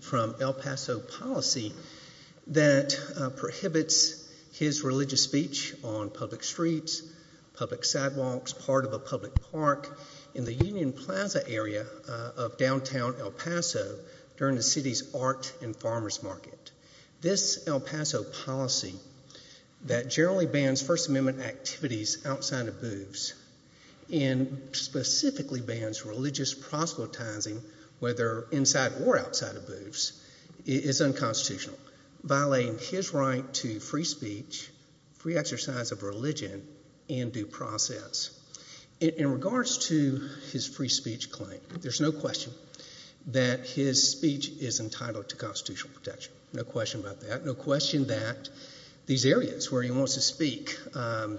from El Paso policy that prohibits his religious speech on public streets, public sidewalks, part of a public park, in the Union Plaza area of downtown El Paso during the city's art and farmers market. This El Paso policy that generally bans First Amendment activities outside of booths and specifically bans religious proselytizing whether inside or outside of booths is unconstitutional, violating his right to free speech, free exercise of religion, and due process. In regards to his free speech claim, there's no question that his speech is entitled to constitutional protection. No question about that. No question that these areas where he wants to speak,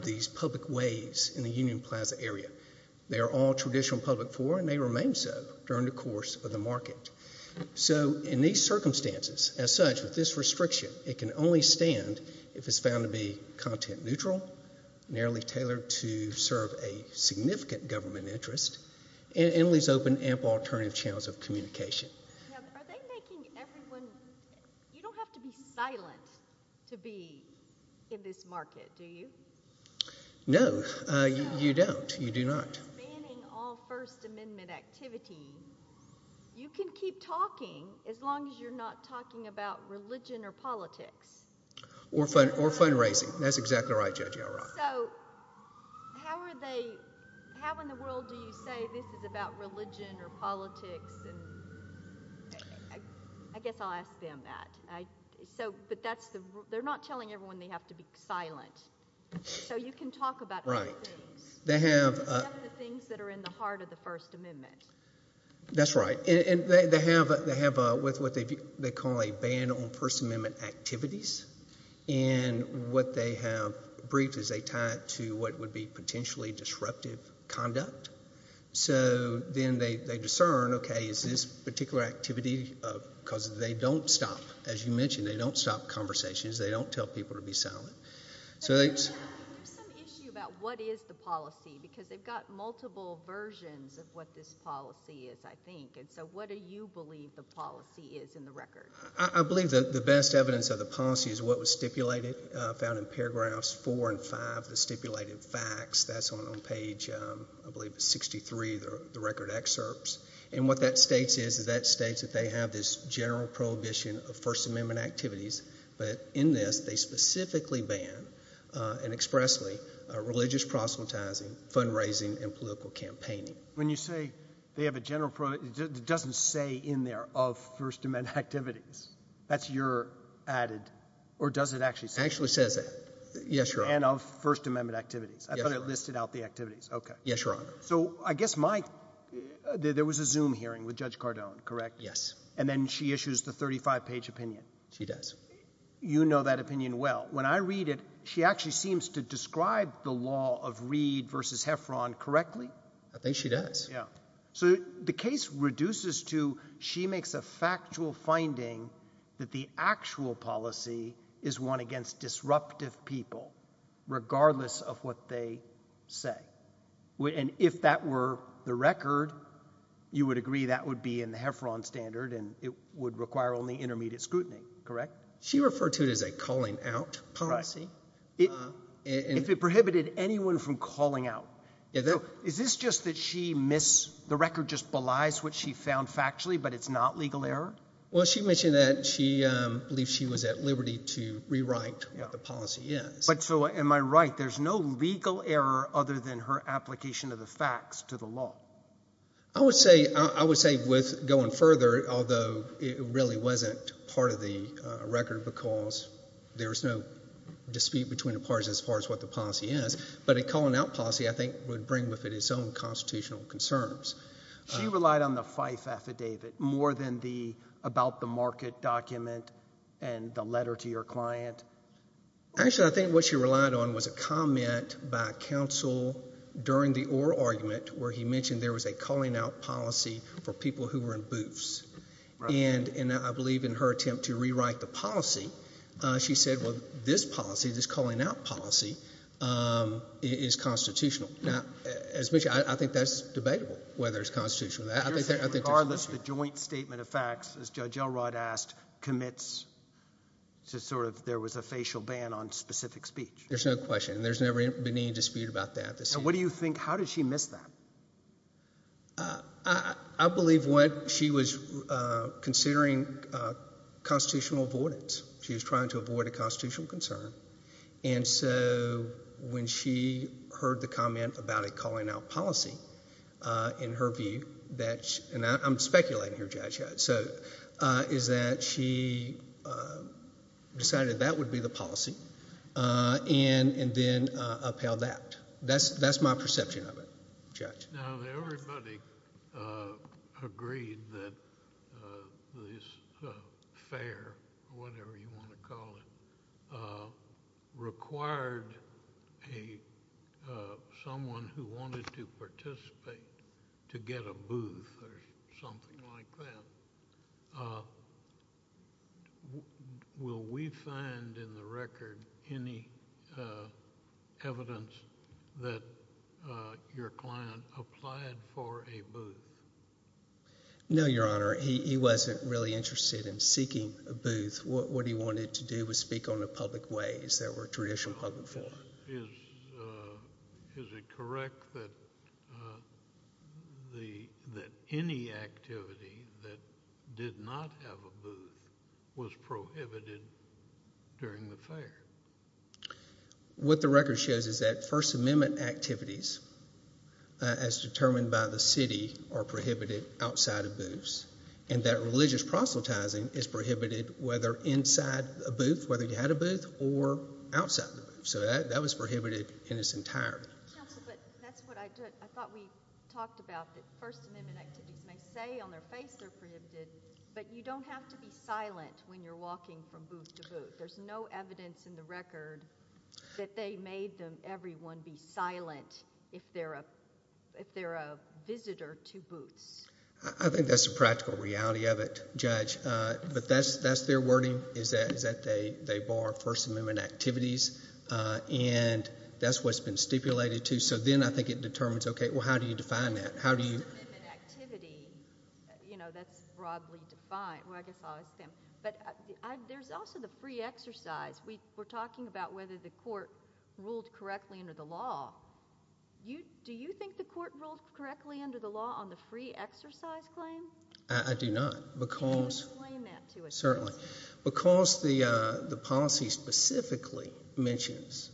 these public ways in the Union Plaza area, they are all traditional public forum and they remain so during the course of the market. So in these circumstances, as such, with this restriction, it can only stand if it's found to be content neutral, narrowly tailored to serve a significant government interest, and leaves open ample alternative channels of communication. Are they making everyone, you don't have to be silent to be in this market, do you? No, you don't. You do not. Banning all First Amendment activity, you can keep talking as long as you're not talking about religion or politics. Or fundraising. That's exactly right, Judge Yarbrough. So how are they, how in the world do you say this is about religion or politics? I guess I'll ask them that. They're not telling everyone they have to be silent. So you can talk about other things. Right. Except the things that are in the heart of the First Amendment. That's right. And they have what they call a ban on First Amendment activities. And what they have briefed is they tie it to what would be potentially disruptive conduct. So then they discern, okay, is this particular activity, because they don't stop. As you mentioned, they don't stop conversations. They don't tell people to be silent. There's some issue about what is the policy, because they've got multiple versions of what this policy is, I think. And so what do you believe the policy is in the record? I believe the best evidence of the policy is what was stipulated, found in paragraphs four and five, the stipulated facts. That's on page, I believe it's 63, the record excerpts. And what that states is that states that they have this general prohibition of First Amendment activities, but in this they specifically ban, and expressly, religious proselytizing, fundraising, and political campaigning. When you say they have a general prohibition, it doesn't say in there of First Amendment activities. That's your added, or does it actually say that? It actually says that, yes, Your Honor. And of First Amendment activities. I thought it listed out the activities. Yes, Your Honor. So I guess there was a Zoom hearing with Judge Cardone, correct? Yes. And then she issues the 35-page opinion. She does. You know that opinion well. When I read it, she actually seems to describe the law of Reed versus Heffron correctly. I think she does. Yeah. So the case reduces to she makes a factual finding that the actual policy is one against disruptive people, regardless of what they say. And if that were the record, you would agree that would be in the Heffron standard and it would require only intermediate scrutiny, correct? She referred to it as a calling out policy. If it prohibited anyone from calling out. Is this just that she missed the record, just belies what she found factually, but it's not legal error? Well, she mentioned that she believes she was at liberty to rewrite the policy, yes. But so am I right? There's no legal error other than her application of the facts to the law? I would say with going further, although it really wasn't part of the record because there was no dispute between the parties as far as what the policy is, but a calling out policy I think would bring with it its own constitutional concerns. She relied on the Fife affidavit more than the about the market document and the letter to your client? Actually, I think what she relied on was a comment by counsel during the Orr argument where he mentioned there was a calling out policy for people who were in booths. And I believe in her attempt to rewrite the policy, she said, well, this policy, this calling out policy, is constitutional. Now, as mentioned, I think that's debatable whether it's constitutional or not. Regardless, the joint statement of facts, as Judge Elrod asked, commits to sort of there was a facial ban on specific speech. There's no question. There's never been any dispute about that. What do you think? How did she miss that? I believe what she was considering constitutional avoidance. She was trying to avoid a constitutional concern. And so when she heard the comment about a calling out policy, in her view, and I'm speculating here, Judge, is that she decided that would be the policy and then upheld that. That's my perception of it, Judge. Now, everybody agreed that this affair, whatever you want to call it, required someone who wanted to participate to get a booth or something like that. Will we find in the record any evidence that your client applied for a booth? No, Your Honor. He wasn't really interested in seeking a booth. What he wanted to do was speak on the public ways that were traditional public forum. Is it correct that any activity that did not have a booth was prohibited during the fair? What the record shows is that First Amendment activities, as determined by the city, are prohibited outside of booths, and that religious proselytizing is prohibited whether inside a booth, whether you had a booth, or outside the booth. So that was prohibited in its entirety. Counsel, but that's what I thought we talked about, that First Amendment activities may say on their face they're prohibited, but you don't have to be silent when you're walking from booth to booth. There's no evidence in the record that they made everyone be silent if they're a visitor to booths. I think that's the practical reality of it, Judge. But that's their wording, is that they bar First Amendment activities, and that's what's been stipulated, too. So then I think it determines, okay, well, how do you define that? First Amendment activity, you know, that's broadly defined. Well, I guess I'll ask them. But there's also the free exercise. We're talking about whether the court ruled correctly under the law. Do you think the court ruled correctly under the law on the free exercise claim? I do not. Can you explain that to us? Certainly. Because the policy specifically mentions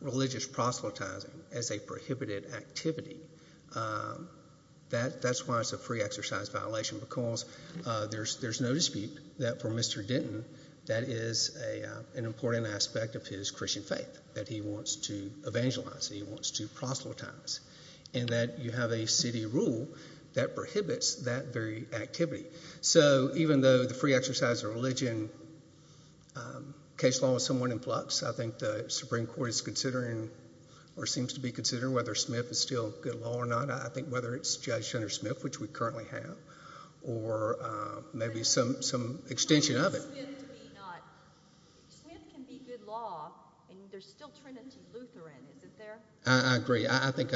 religious proselytizing as a prohibited activity, that's why it's a free exercise violation, because there's no dispute that for Mr. Denton, that is an important aspect of his Christian faith, that he wants to evangelize, that he wants to proselytize, and that you have a city rule that prohibits that very activity. So even though the free exercise of religion case law is somewhat in flux, I think the Supreme Court is considering or seems to be considering whether Smith is still good law or not. I think whether it's Judge Jenner-Smith, which we currently have, or maybe some extension of it. Smith can be good law, and there's still Trinity Lutheran. Is it there? I agree. I think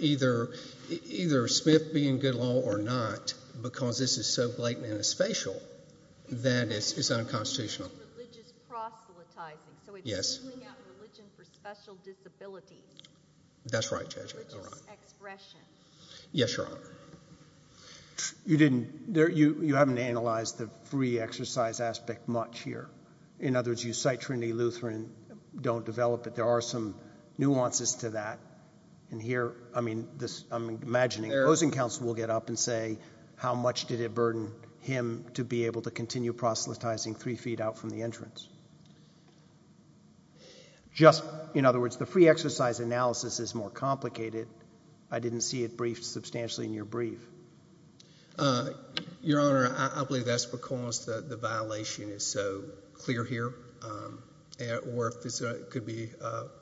either Smith being good law or not, because this is so blatant and as facial, that it's unconstitutional. Religious proselytizing. So it's ruling out religion for special disability. That's right, Judge. Religious expression. Yes, Your Honor. You haven't analyzed the free exercise aspect much here. In other words, you cite Trinity Lutheran, don't develop it. There are some nuances to that. And here, I'm imagining the opposing counsel will get up and say, how much did it burden him to be able to continue proselytizing three feet out from the entrance? In other words, the free exercise analysis is more complicated. I didn't see it briefed substantially in your brief. Your Honor, I believe that's because the violation is so clear here. Or it could be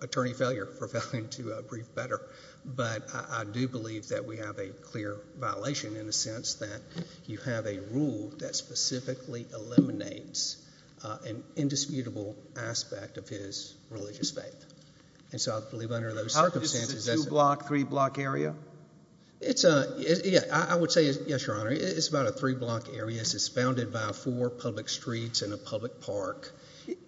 attorney failure for failing to brief better. But I do believe that we have a clear violation in the sense that you have a rule that specifically eliminates an indisputable aspect of his religious faith. This is a two-block, three-block area? I would say, yes, Your Honor. It's about a three-block area. It's founded by four public streets and a public park.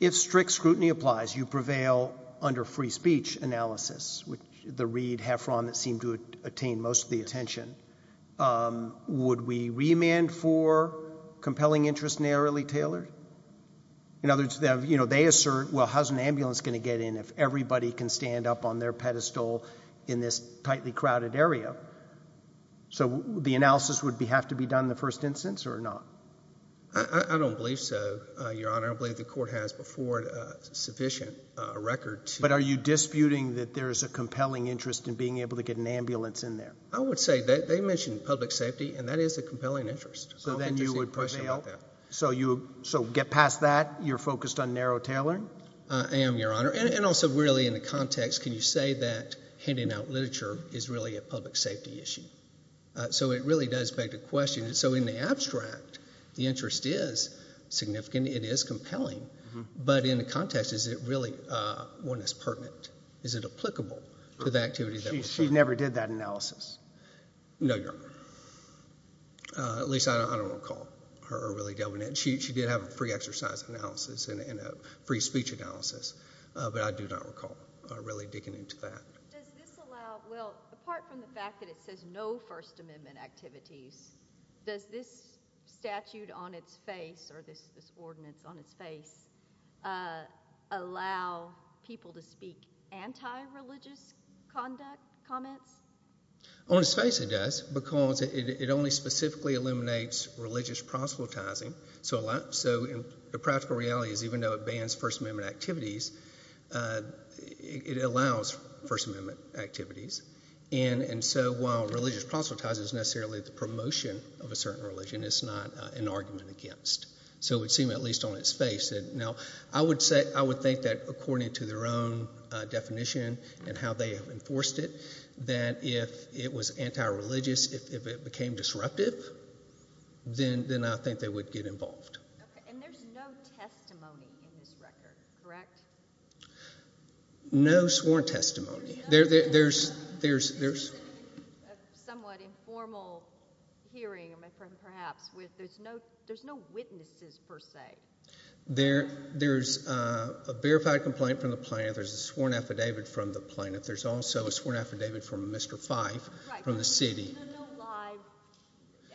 If strict scrutiny applies, you prevail under free speech analysis, which the Reid heffron that seemed to attain most of the attention. Would we remand for compelling interest narrowly tailored? In other words, they assert, well, how's an ambulance going to get in if everybody can stand up on their pedestal in this tightly crowded area? So the analysis would have to be done in the first instance or not? I don't believe so, Your Honor. I believe the court has before it sufficient record. But are you disputing that there is a compelling interest in being able to get an ambulance in there? I would say they mentioned public safety, and that is a compelling interest. So then you would prevail? So get past that, you're focused on narrow tailoring? I am, Your Honor. And also really in the context, can you say that handing out literature is really a public safety issue? So it really does beg the question. So in the abstract, the interest is significant, it is compelling. But in the context, is it really one that's pertinent? She never did that analysis. No, Your Honor. At least I don't recall her really doing it. She did have a free exercise analysis and a free speech analysis. But I do not recall really digging into that. Does this allow, well, apart from the fact that it says no First Amendment activities, does this statute on its face or this ordinance on its face allow people to speak anti-religious conduct, comments? On its face it does, because it only specifically eliminates religious proselytizing. So the practical reality is even though it bans First Amendment activities, it allows First Amendment activities. And so while religious proselytizing is necessarily the promotion of a certain religion, it's not an argument against. So it would seem at least on its face. Now, I would think that according to their own definition and how they have enforced it, that if it was anti-religious, if it became disruptive, then I think they would get involved. Okay. And there's no testimony in this record, correct? No sworn testimony. There's a somewhat informal hearing, perhaps, with there's no witnesses per se. There's a verified complaint from the plaintiff. There's a sworn affidavit from the plaintiff. There's also a sworn affidavit from Mr. Fife from the city.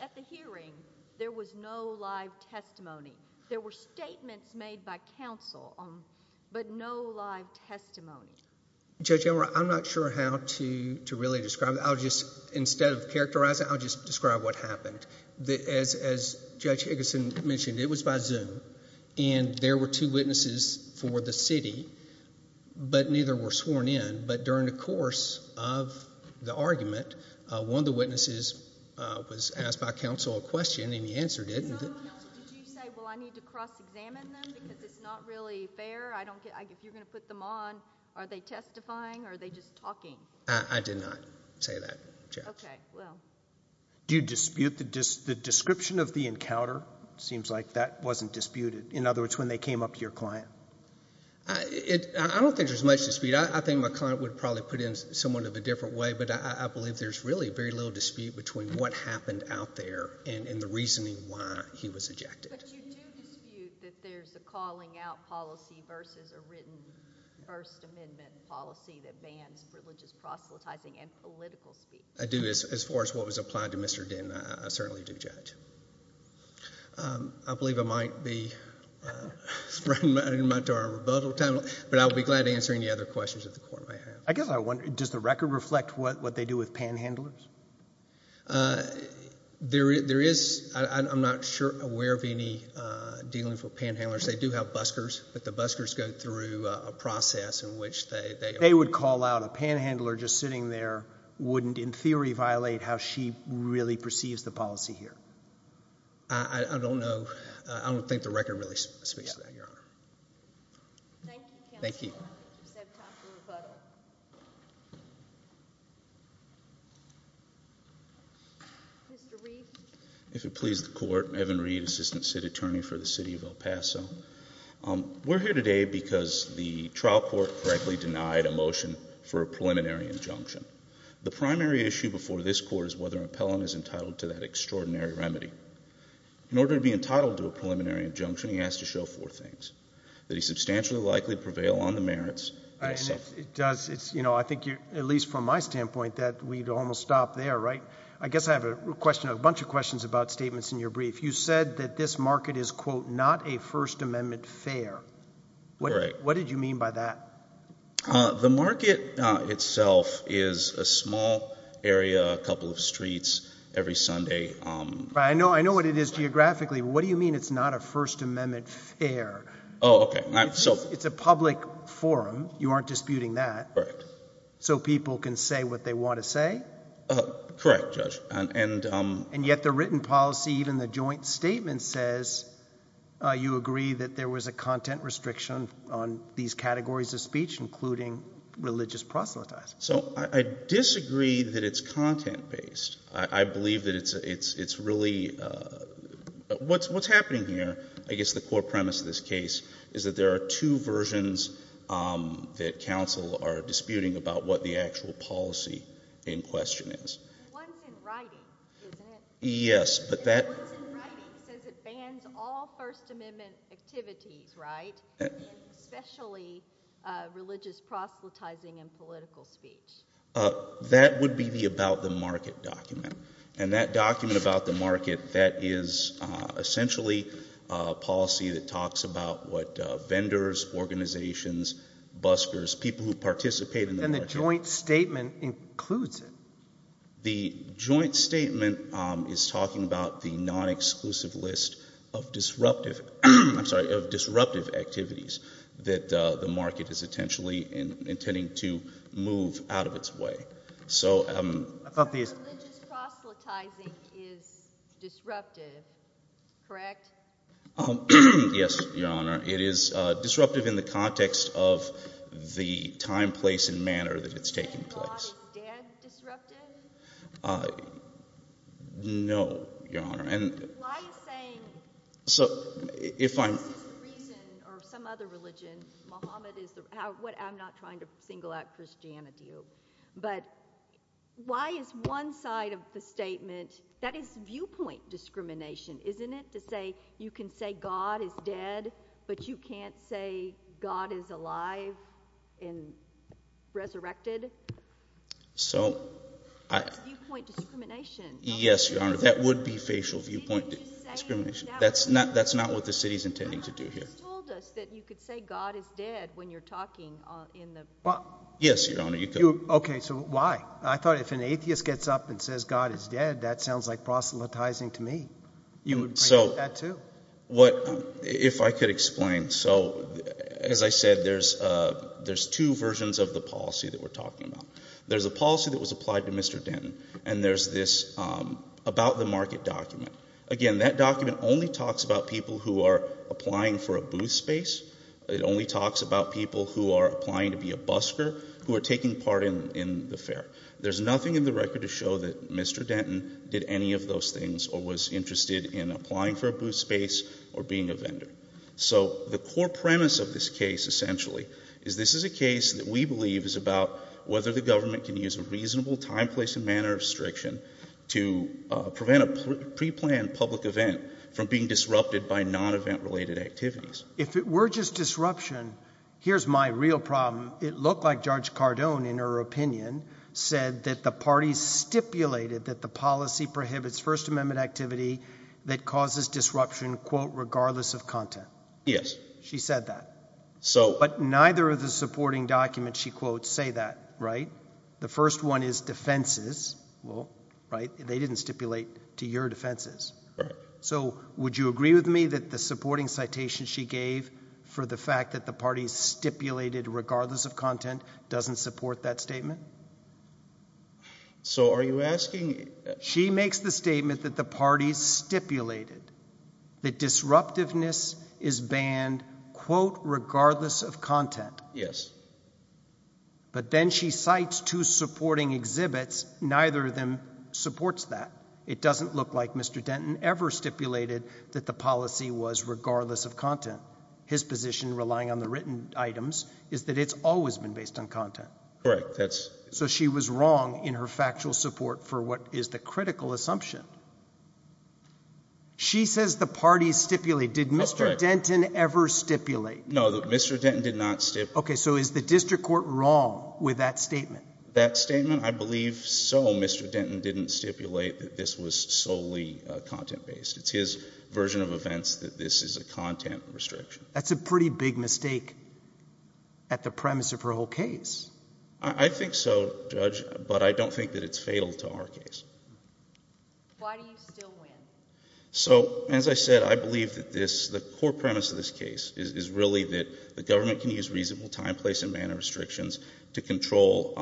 At the hearing, there was no live testimony. There were statements made by counsel, but no live testimony. Judge Elroy, I'm not sure how to really describe it. Instead of characterizing it, I'll just describe what happened. As Judge Iggeson mentioned, it was by Zoom, and there were two witnesses for the city, but neither were sworn in. But during the course of the argument, one of the witnesses was asked by counsel a question, and he answered it. Did you say, well, I need to cross-examine them because it's not really fair? If you're going to put them on, are they testifying or are they just talking? I did not say that, Judge. Okay, well. Do you dispute the description of the encounter? It seems like that wasn't disputed. In other words, when they came up to your client. I don't think there's much dispute. I think my client would probably put it in somewhat of a different way, but I believe there's really very little dispute between what happened out there and the reasoning why he was ejected. But you do dispute that there's a calling-out policy versus a written First Amendment policy that bans privileges, proselytizing, and political speech. I do. But as far as what was applied to Mr. Dinn, I certainly do, Judge. I believe I might be spreading my arm in rebuttal, but I'll be glad to answer any other questions that the Court may have. I guess I wonder, does the record reflect what they do with panhandlers? There is. I'm not sure I'm aware of any dealing for panhandlers. They do have buskers, but the buskers go through a process in which they... violate how she really perceives the policy here. I don't know. I don't think the record really speaks to that, Your Honor. Thank you, counsel. Thank you. We just have time for rebuttal. Mr. Reed. If it pleases the Court, Evan Reed, Assistant City Attorney for the City of El Paso. We're here today because the trial court correctly denied a motion for a preliminary injunction. The primary issue before this Court is whether an appellant is entitled to that extraordinary remedy. In order to be entitled to a preliminary injunction, he has to show four things. That he's substantially likely to prevail on the merits. It does. I think, at least from my standpoint, that we'd almost stop there, right? I guess I have a bunch of questions about statements in your brief. You said that this market is, quote, not a First Amendment fair. Right. What did you mean by that? The market itself is a small area, a couple of streets, every Sunday. I know what it is geographically. What do you mean it's not a First Amendment fair? Oh, okay. It's a public forum. You aren't disputing that. Correct. So people can say what they want to say? Correct, Judge. And yet the written policy, even the joint statement, says you agree that there was a content restriction on these categories of speech, including religious proselytizing. So I disagree that it's content-based. I believe that it's really – what's happening here, I guess the core premise of this case, is that there are two versions that counsel are disputing about what the actual policy in question is. The one's in writing, isn't it? Yes, but that – The one's in writing says it bans all First Amendment activities, right, especially religious proselytizing and political speech. That would be the about the market document. And that document about the market, that is essentially a policy that talks about what vendors, organizations, buskers, people who participate in the market – the joint statement is talking about the non-exclusive list of disruptive – I'm sorry, of disruptive activities that the market is intentionally intending to move out of its way. So – Religious proselytizing is disruptive, correct? Yes, Your Honor. It is disruptive in the context of the time, place, and manner that it's taking place. Is God is dead disruptive? No, Your Honor, and – Why is saying – So, if I'm – This is the reason, or some other religion, Mohammed is the – I'm not trying to single out Christianity. But why is one side of the statement – that is viewpoint discrimination, isn't it? To say you can say God is dead, but you can't say God is alive and resurrected? So – That's viewpoint discrimination. Yes, Your Honor, that would be facial viewpoint discrimination. That's not what the city is intending to do here. You told us that you could say God is dead when you're talking in the – Yes, Your Honor, you could. Okay, so why? I thought if an atheist gets up and says God is dead, that sounds like proselytizing to me. You would agree with that, too. So, what – if I could explain. So, as I said, there's two versions of the policy that we're talking about. There's a policy that was applied to Mr. Denton, and there's this about the market document. Again, that document only talks about people who are applying for a booth space. It only talks about people who are applying to be a busker, who are taking part in the fair. There's nothing in the record to show that Mr. Denton did any of those things or was interested in applying for a booth space or being a vendor. So the core premise of this case, essentially, is this is a case that we believe is about whether the government can use a reasonable time, place, and manner restriction to prevent a preplanned public event from being disrupted by non-event-related activities. If it were just disruption, here's my real problem. It looked like Judge Cardone, in her opinion, said that the parties stipulated that the policy prohibits First Amendment activity that causes disruption, quote, regardless of content. Yes. She said that. So – But neither of the supporting documents, she quotes, say that, right? The first one is defenses. Well, right? They didn't stipulate to your defenses. Right. So would you agree with me that the supporting citation she gave for the fact that the parties stipulated regardless of content doesn't support that statement? So are you asking – She makes the statement that the parties stipulated that disruptiveness is banned, quote, regardless of content. Yes. But then she cites two supporting exhibits. Neither of them supports that. It doesn't look like Mr. Denton ever stipulated that the policy was regardless of content. His position, relying on the written items, is that it's always been based on content. Correct. That's – So she was wrong in her factual support for what is the critical assumption. She says the parties stipulated. Did Mr. Denton ever stipulate? No. Mr. Denton did not stipulate. Okay. So is the district court wrong with that statement? That statement, I believe so. Mr. Denton didn't stipulate that this was solely content-based. It's his version of events that this is a content restriction. That's a pretty big mistake at the premise of her whole case. I think so, Judge, but I don't think that it's fatal to our case. Why do you still win? So, as I said, I believe that this – the core premise of this case is really that the government can use reasonable time, place, and manner restrictions to control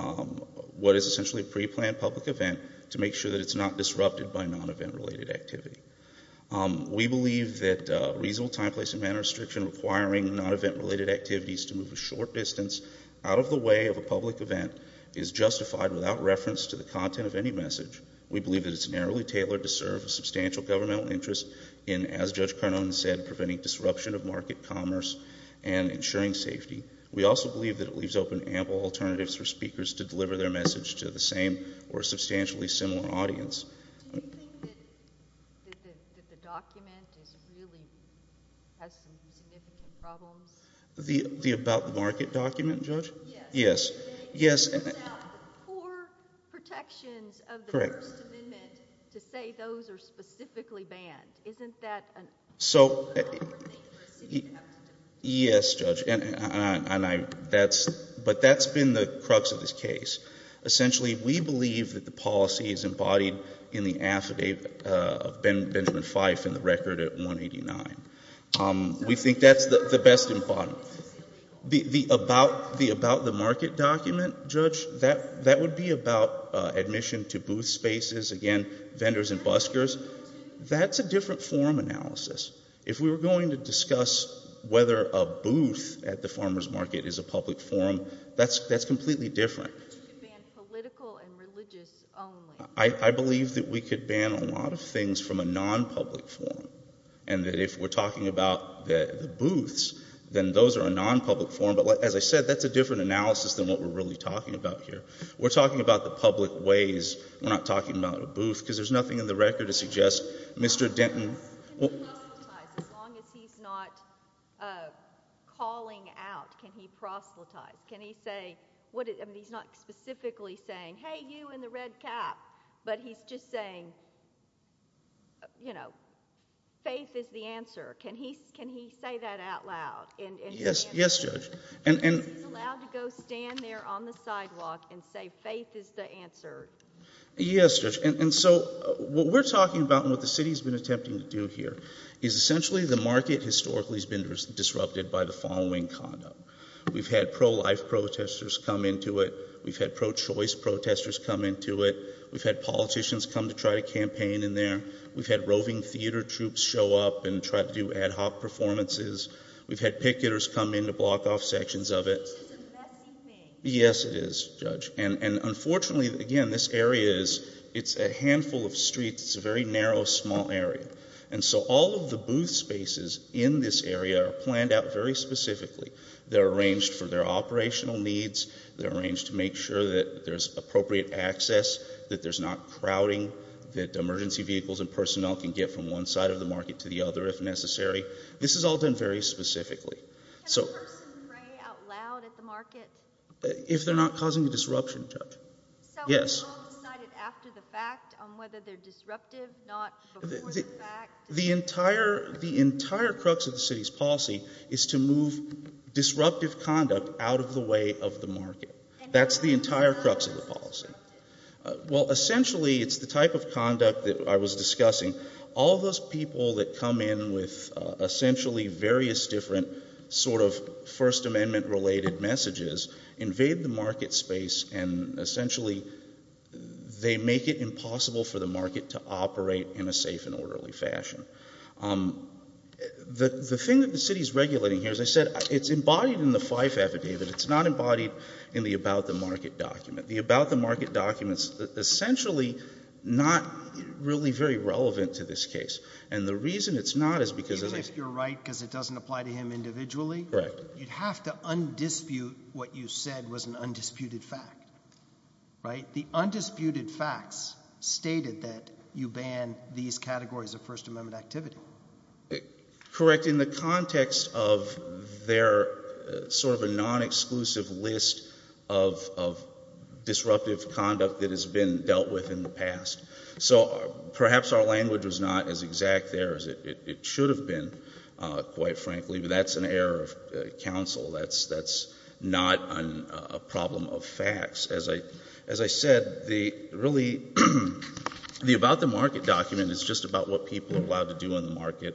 what is essentially a preplanned public event to make sure that it's not disrupted by non-event-related activity. We believe that reasonable time, place, and manner restriction requiring non-event-related activities to move a short distance out of the way of a public event is justified without reference to the content of any message. We believe that it's narrowly tailored to serve a substantial governmental interest in, as Judge Carnone said, preventing disruption of market commerce and ensuring safety. We also believe that it leaves open ample alternatives for speakers to deliver their message to the same or substantially similar audience. Do you think that the document is really – has some significant problems? The about-the-market document, Judge? Yes. Yes. Yes. It puts out the core protections of the First Amendment to say those are specifically banned. Isn't that an – So, yes, Judge, and I – that's – but that's been the crux of this case. Essentially, we believe that the policy is embodied in the affidavit of Benjamin Fife in the record at 189. We think that's the best embodiment. The about-the-market document, Judge, that would be about admission to booth spaces, again, vendors and buskers. That's a different form analysis. If we were going to discuss whether a booth at the farmer's market is a public forum, that's completely different. You could ban political and religious only. I believe that we could ban a lot of things from a non-public forum, and that if we're talking about the booths, then those are a non-public forum. But, as I said, that's a different analysis than what we're really talking about here. We're talking about the public ways. We're not talking about a booth because there's nothing in the record to suggest Mr. Denton – As long as he's not calling out, can he proselytize? Can he say – I mean, he's not specifically saying, hey, you in the red cap, but he's just saying, you know, faith is the answer. Can he say that out loud? Yes, Judge. He's allowed to go stand there on the sidewalk and say faith is the answer. Yes, Judge. And so what we're talking about and what the city's been attempting to do here is, essentially, the market historically has been disrupted by the following conduct. We've had pro-life protesters come into it. We've had pro-choice protesters come into it. We've had politicians come to try to campaign in there. We've had roving theater troops show up and try to do ad hoc performances. We've had picketers come in to block off sections of it. This is a messy thing. Yes, it is, Judge. And unfortunately, again, this area is – it's a handful of streets. It's a very narrow, small area. And so all of the booth spaces in this area are planned out very specifically. They're arranged for their operational needs. They're arranged to make sure that there's appropriate access, that there's not crowding, that emergency vehicles and personnel can get from one side of the market to the other if necessary. This is all done very specifically. Can a person pray out loud at the market? If they're not causing a disruption, Judge. So it's all decided after the fact on whether they're disruptive, not before the fact? The entire crux of the city's policy is to move disruptive conduct out of the way of the market. That's the entire crux of the policy. Well, essentially, it's the type of conduct that I was discussing. All those people that come in with essentially various different sort of First Amendment-related messages invade the market space and essentially they make it impossible for the market to operate in a safe and orderly fashion. The thing that the city is regulating here, as I said, it's embodied in the Fife Affidavit. It's not embodied in the About the Market document. The About the Market document is essentially not really very relevant to this case. And the reason it's not is because of this. Even if you're right because it doesn't apply to him individually? Correct. You'd have to undispute what you said was an undisputed fact. Right? The undisputed facts stated that you ban these categories of First Amendment activity. Correct, in the context of their sort of a non-exclusive list of disruptive conduct that has been dealt with in the past. So perhaps our language was not as exact there as it should have been, quite frankly, but that's an error of counsel. That's not a problem of facts. As I said, the About the Market document is just about what people are allowed to do in the market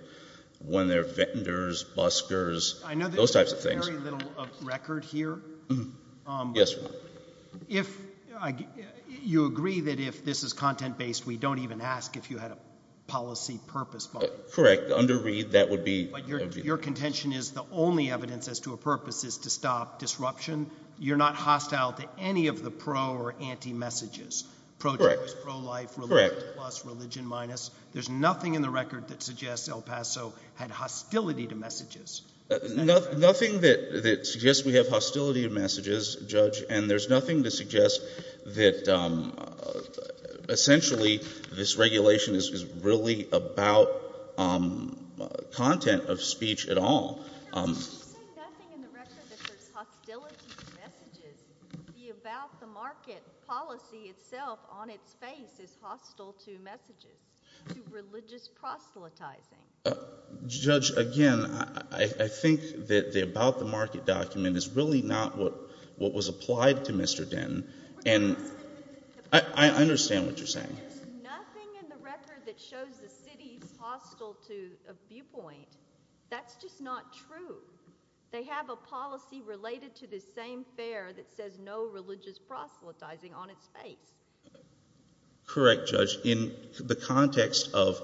when they're vendors, buskers, those types of things. I know there's very little record here. Yes. You agree that if this is content-based, we don't even ask if you had a policy purpose. Correct. Under read, that would be. But your contention is the only evidence as to a purpose is to stop disruption. You're not hostile to any of the pro or anti messages. Correct. Pro-choice, pro-life. Correct. Religion plus, religion minus. There's nothing in the record that suggests El Paso had hostility to messages. Nothing that suggests we have hostility to messages, Judge, and there's nothing to suggest that essentially this regulation is really about content of speech at all. You say nothing in the record that there's hostility to messages. The About the Market policy itself on its face is hostile to messages, to religious proselytizing. Judge, again, I think that the About the Market document is really not what was applied to Mr. Dinh, and I understand what you're saying. There's nothing in the record that shows the city's hostile to a viewpoint. That's just not true. They have a policy related to this same fair that says no religious proselytizing on its face. Correct, Judge. In the context of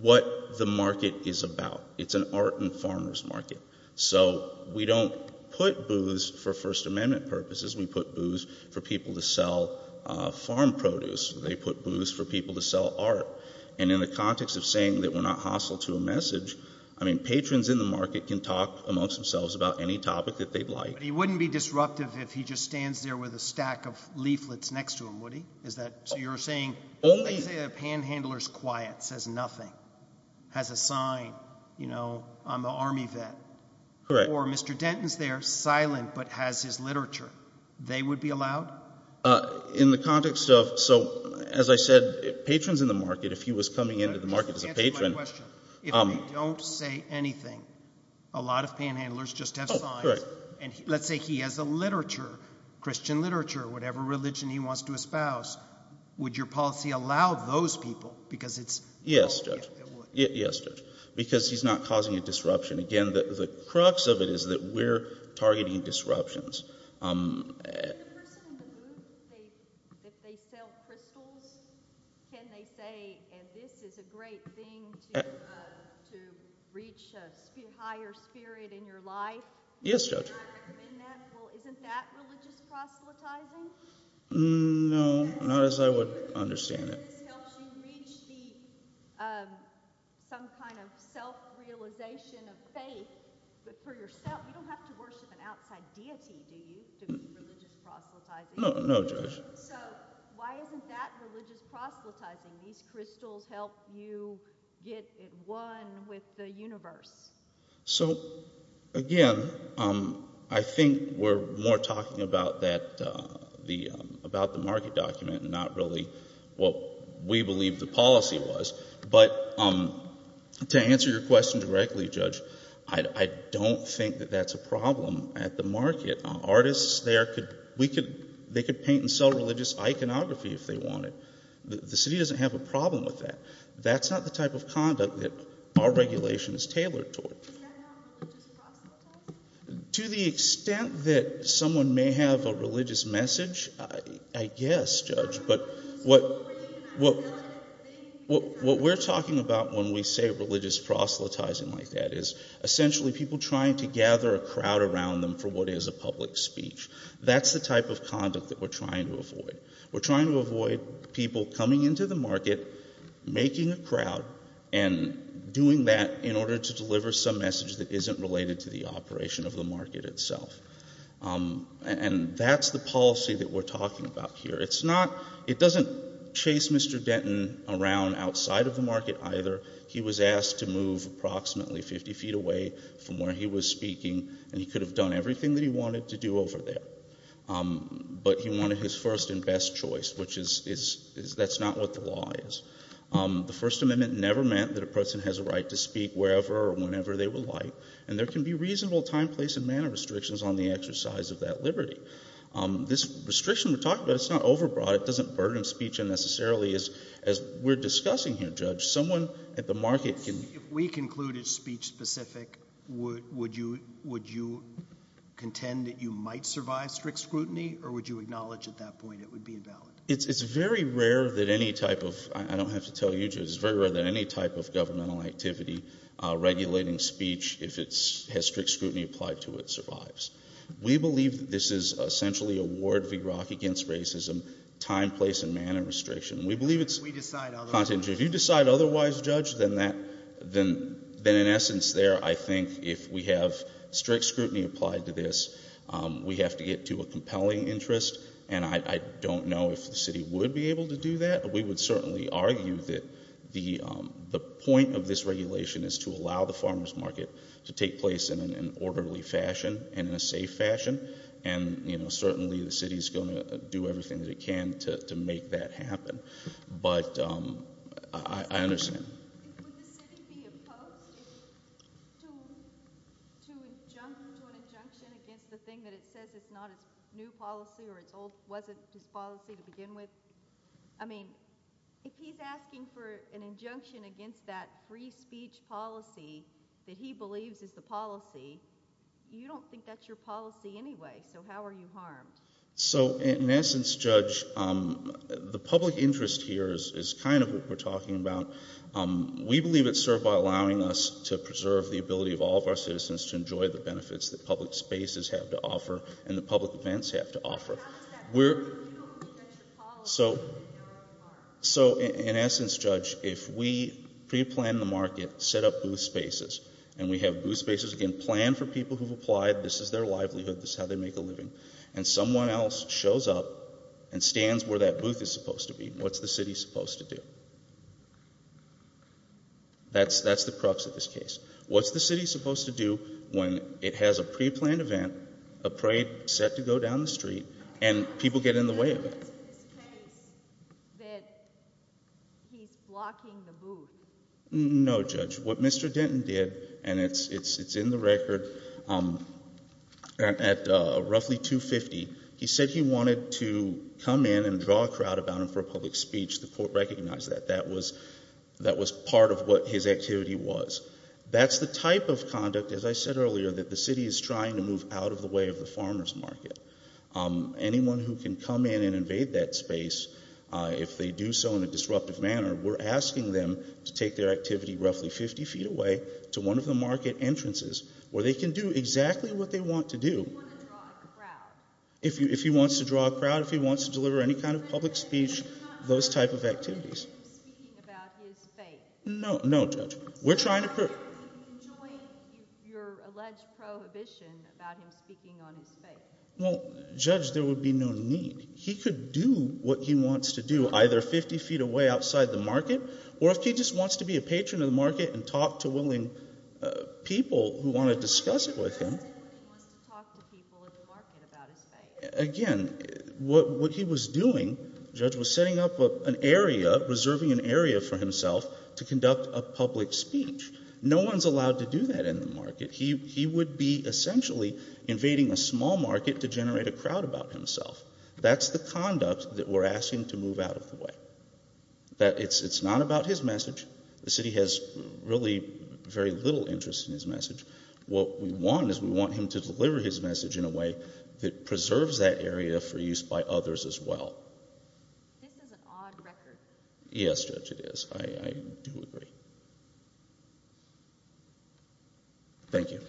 what the market is about, it's an art and farmers market, so we don't put booths for First Amendment purposes. We put booths for people to sell farm produce. They put booths for people to sell art. And in the context of saying that we're not hostile to a message, I mean patrons in the market can talk amongst themselves about any topic that they'd like. But he wouldn't be disruptive if he just stands there with a stack of leaflets next to him, would he? Is that – so you're saying – let's say a panhandler's quiet, says nothing, has a sign, you know, I'm an Army vet. Correct. Or Mr. Denton's there, silent, but has his literature. They would be allowed? In the context of – so, as I said, patrons in the market, if he was coming into the market as a patron – Just answer my question. If they don't say anything, a lot of panhandlers just have signs. Correct. And let's say he has a literature, Christian literature, whatever religion he wants to espouse, would your policy allow those people? Because it's – Yes, Judge. Yes, Judge. Because he's not causing a disruption. Again, the crux of it is that we're targeting disruptions. The person in the booth, if they sell crystals, can they say, and this is a great thing to reach a higher spirit in your life? Yes, Judge. Would you recommend that? Well, isn't that religious proselytizing? No, not as I would understand it. You said this helps you reach the – some kind of self-realization of faith. But for yourself, you don't have to worship an outside deity, do you, to be religious proselytizing? No, Judge. So why isn't that religious proselytizing? These crystals help you get at one with the universe. So, again, I think we're more talking about the market document and not really what we believe the policy was. But to answer your question directly, Judge, I don't think that that's a problem at the market. Artists there could – they could paint and sell religious iconography if they wanted. The city doesn't have a problem with that. That's not the type of conduct that our regulation is tailored toward. Is that not religious proselytizing? To the extent that someone may have a religious message, I guess, Judge. But what we're talking about when we say religious proselytizing like that is essentially people trying to gather a crowd around them for what is a public speech. That's the type of conduct that we're trying to avoid. We're trying to avoid people coming into the market, making a crowd, and doing that in order to deliver some message that isn't related to the operation of the market itself. And that's the policy that we're talking about here. It's not – it doesn't chase Mr. Denton around outside of the market either. He was asked to move approximately 50 feet away from where he was speaking, and he could have done everything that he wanted to do over there. But he wanted his first and best choice, which is – that's not what the law is. The First Amendment never meant that a person has a right to speak wherever or whenever they would like, and there can be reasonable time, place, and manner restrictions on the exercise of that liberty. This restriction we're talking about, it's not overbroad. It doesn't burden speech unnecessarily, as we're discussing here, Judge. If we concluded speech-specific, would you contend that you might survive strict scrutiny, or would you acknowledge at that point it would be invalid? It's very rare that any type of – I don't have to tell you, Judge. It's very rare that any type of governmental activity regulating speech, if it has strict scrutiny applied to it, survives. We believe this is essentially a ward v. rock against racism, time, place, and manner restriction. We believe it's – if you decide otherwise, Judge, then in essence there I think if we have strict scrutiny applied to this, we have to get to a compelling interest, and I don't know if the city would be able to do that, but we would certainly argue that the point of this regulation is to allow the farmer's market to take place in an orderly fashion and in a safe fashion, and certainly the city is going to do everything that it can to make that happen. But I understand. Would the city be opposed to an injunction against the thing that it says it's not its new policy or it wasn't its policy to begin with? I mean if he's asking for an injunction against that free speech policy that he believes is the policy, you don't think that's your policy anyway, so how are you harmed? So in essence, Judge, the public interest here is kind of what we're talking about. We believe it's served by allowing us to preserve the ability of all of our citizens to enjoy the benefits that public spaces have to offer and that public events have to offer. How does that work if you don't think that's your policy? So in essence, Judge, if we pre-plan the market, set up booth spaces, and we have booth spaces, again, planned for people who've applied, this is their livelihood, this is how they make a living, and someone else shows up and stands where that booth is supposed to be, what's the city supposed to do? That's the crux of this case. What's the city supposed to do when it has a pre-planned event, a parade set to go down the street, and people get in the way of it? I don't think it's in his case that he's blocking the booth. No, Judge. What Mr. Denton did, and it's in the record, at roughly 2.50, he said he wanted to come in and draw a crowd about him for a public speech. The court recognized that that was part of what his activity was. That's the type of conduct, as I said earlier, that the city is trying to move out of the way of the farmer's market. Anyone who can come in and invade that space, if they do so in a disruptive manner, we're asking them to take their activity roughly 50 feet away to one of the market entrances, where they can do exactly what they want to do. You want to draw a crowd. If he wants to draw a crowd, if he wants to deliver any kind of public speech, those type of activities. You're not allowing him to speak about his faith. No, Judge. You're enjoying your alleged prohibition about him speaking on his faith. Well, Judge, there would be no need. He could do what he wants to do, either 50 feet away outside the market, or if he just wants to be a patron of the market and talk to willing people who want to discuss it with him. Again, what he was doing, Judge, was setting up an area, reserving an area for himself to conduct a public speech. No one's allowed to do that in the market. He would be essentially invading a small market to generate a crowd about himself. That's the conduct that we're asking to move out of the way. It's not about his message. The city has really very little interest in his message. What we want is we want him to deliver his message in a way that preserves that area for use by others as well. This is an odd record. Yes, Judge, it is. I do agree. Thank you.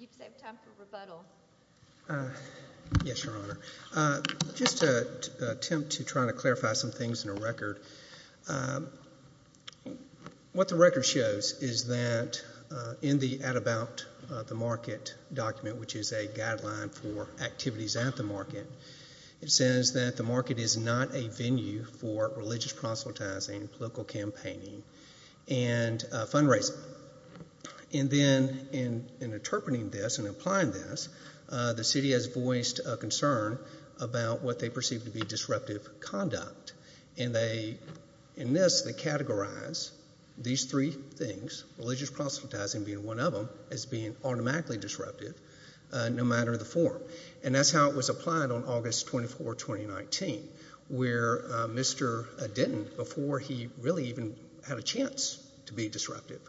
You've saved time for rebuttal. Yes, Your Honor. Just to attempt to try to clarify some things in a record, what the record shows is that in the about the market document, which is a guideline for activities at the market, it says that the market is not a venue for religious proselytizing, political campaigning, and fundraising. And then in interpreting this and applying this, the city has voiced a concern about what they perceive to be disruptive conduct. In this, they categorize these three things, religious proselytizing being one of them, as being automatically disruptive, no matter the form. And that's how it was applied on August 24, 2019, where Mr. Denton, before he really even had a chance to be disruptive,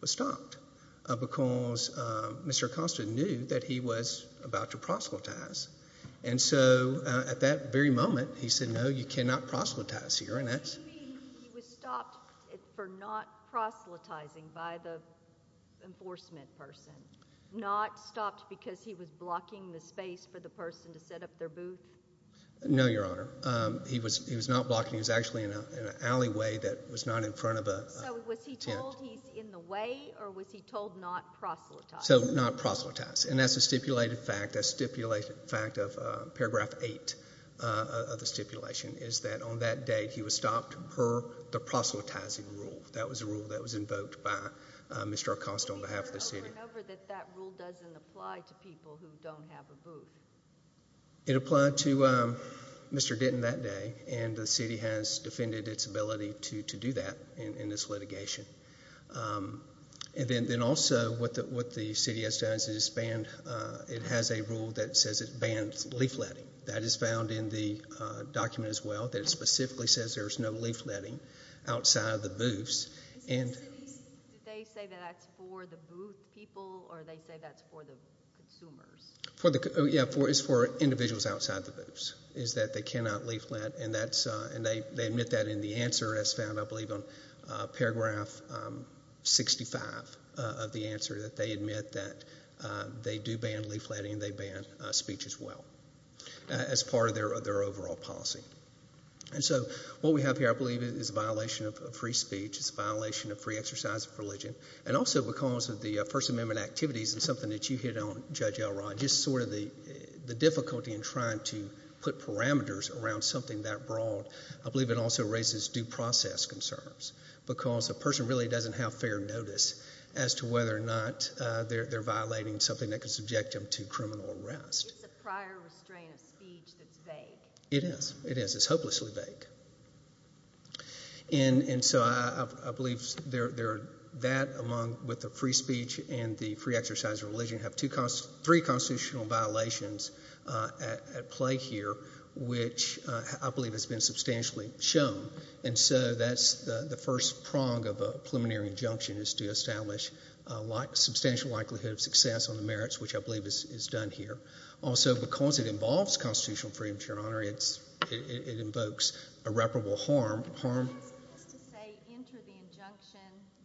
was stopped because Mr. Acosta knew that he was about to proselytize. And so at that very moment, he said, no, you cannot proselytize here. Do you mean he was stopped for not proselytizing by the enforcement person, not stopped because he was blocking the space for the person to set up their booth? No, Your Honor. He was not blocking. He was actually in an alleyway that was not in front of a tent. So was he told he's in the way, or was he told not proselytize? So not proselytize. And that's a stipulated fact, a stipulated fact of Paragraph 8 of the stipulation, is that on that day, he was stopped per the proselytizing rule. That was a rule that was invoked by Mr. Acosta on behalf of the city. But remember that that rule doesn't apply to people who don't have a booth. It applied to Mr. Denton that day, and the city has defended its ability to do that in this litigation. And then also what the city has done is it has a rule that says it bans leafletting. That is found in the document as well, that it specifically says there's no leafletting outside of the booths. Did the city say that that's for the booth people, or they say that's for the consumers? Yeah, it's for individuals outside the booths, is that they cannot leaflet. And they admit that in the answer as found, I believe, on Paragraph 65 of the answer, that they admit that they do ban leafletting, and they ban speech as well as part of their overall policy. And so what we have here, I believe, is a violation of free speech. It's a violation of free exercise of religion. And also because of the First Amendment activities and something that you hit on, Judge Elrod, just sort of the difficulty in trying to put parameters around something that broad, I believe it also raises due process concerns because a person really doesn't have fair notice as to whether or not they're violating something that could subject them to criminal arrest. It's a prior restraint of speech that's vague. It is. It is. It's hopelessly vague. And so I believe that, along with the free speech and the free exercise of religion, have three constitutional violations at play here, which I believe has been substantially shown. And so that's the first prong of a preliminary injunction is to establish a substantial likelihood of success on the merits, which I believe is done here. Also, because it involves constitutional freedom, Your Honor, it invokes irreparable harm. ...to say enter the injunction.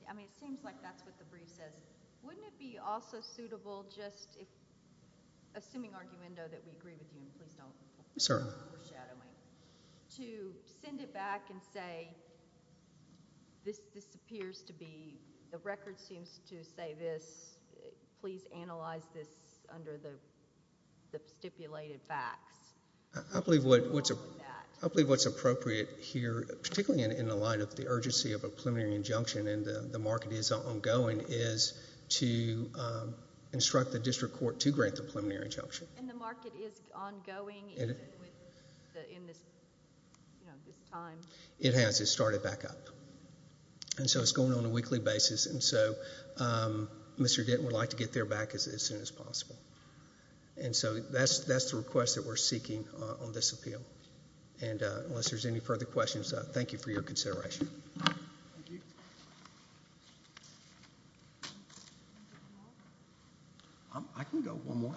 I mean, it seems like that's what the brief says. Wouldn't it be also suitable just if, assuming arguendo that we agree with you, and please don't go overshadowing, to send it back and say this appears to be, the record seems to say this. Please analyze this under the stipulated facts. I believe what's appropriate here, particularly in the light of the urgency of a preliminary injunction, and the market is ongoing, is to instruct the district court to grant the preliminary injunction. And the market is ongoing in this time? It has. It started back up. And so it's going on a weekly basis, and so Mr. Denton would like to get there back as soon as possible. And so that's the request that we're seeking on this appeal. And unless there's any further questions, thank you for your consideration. Thank you. I can go one more.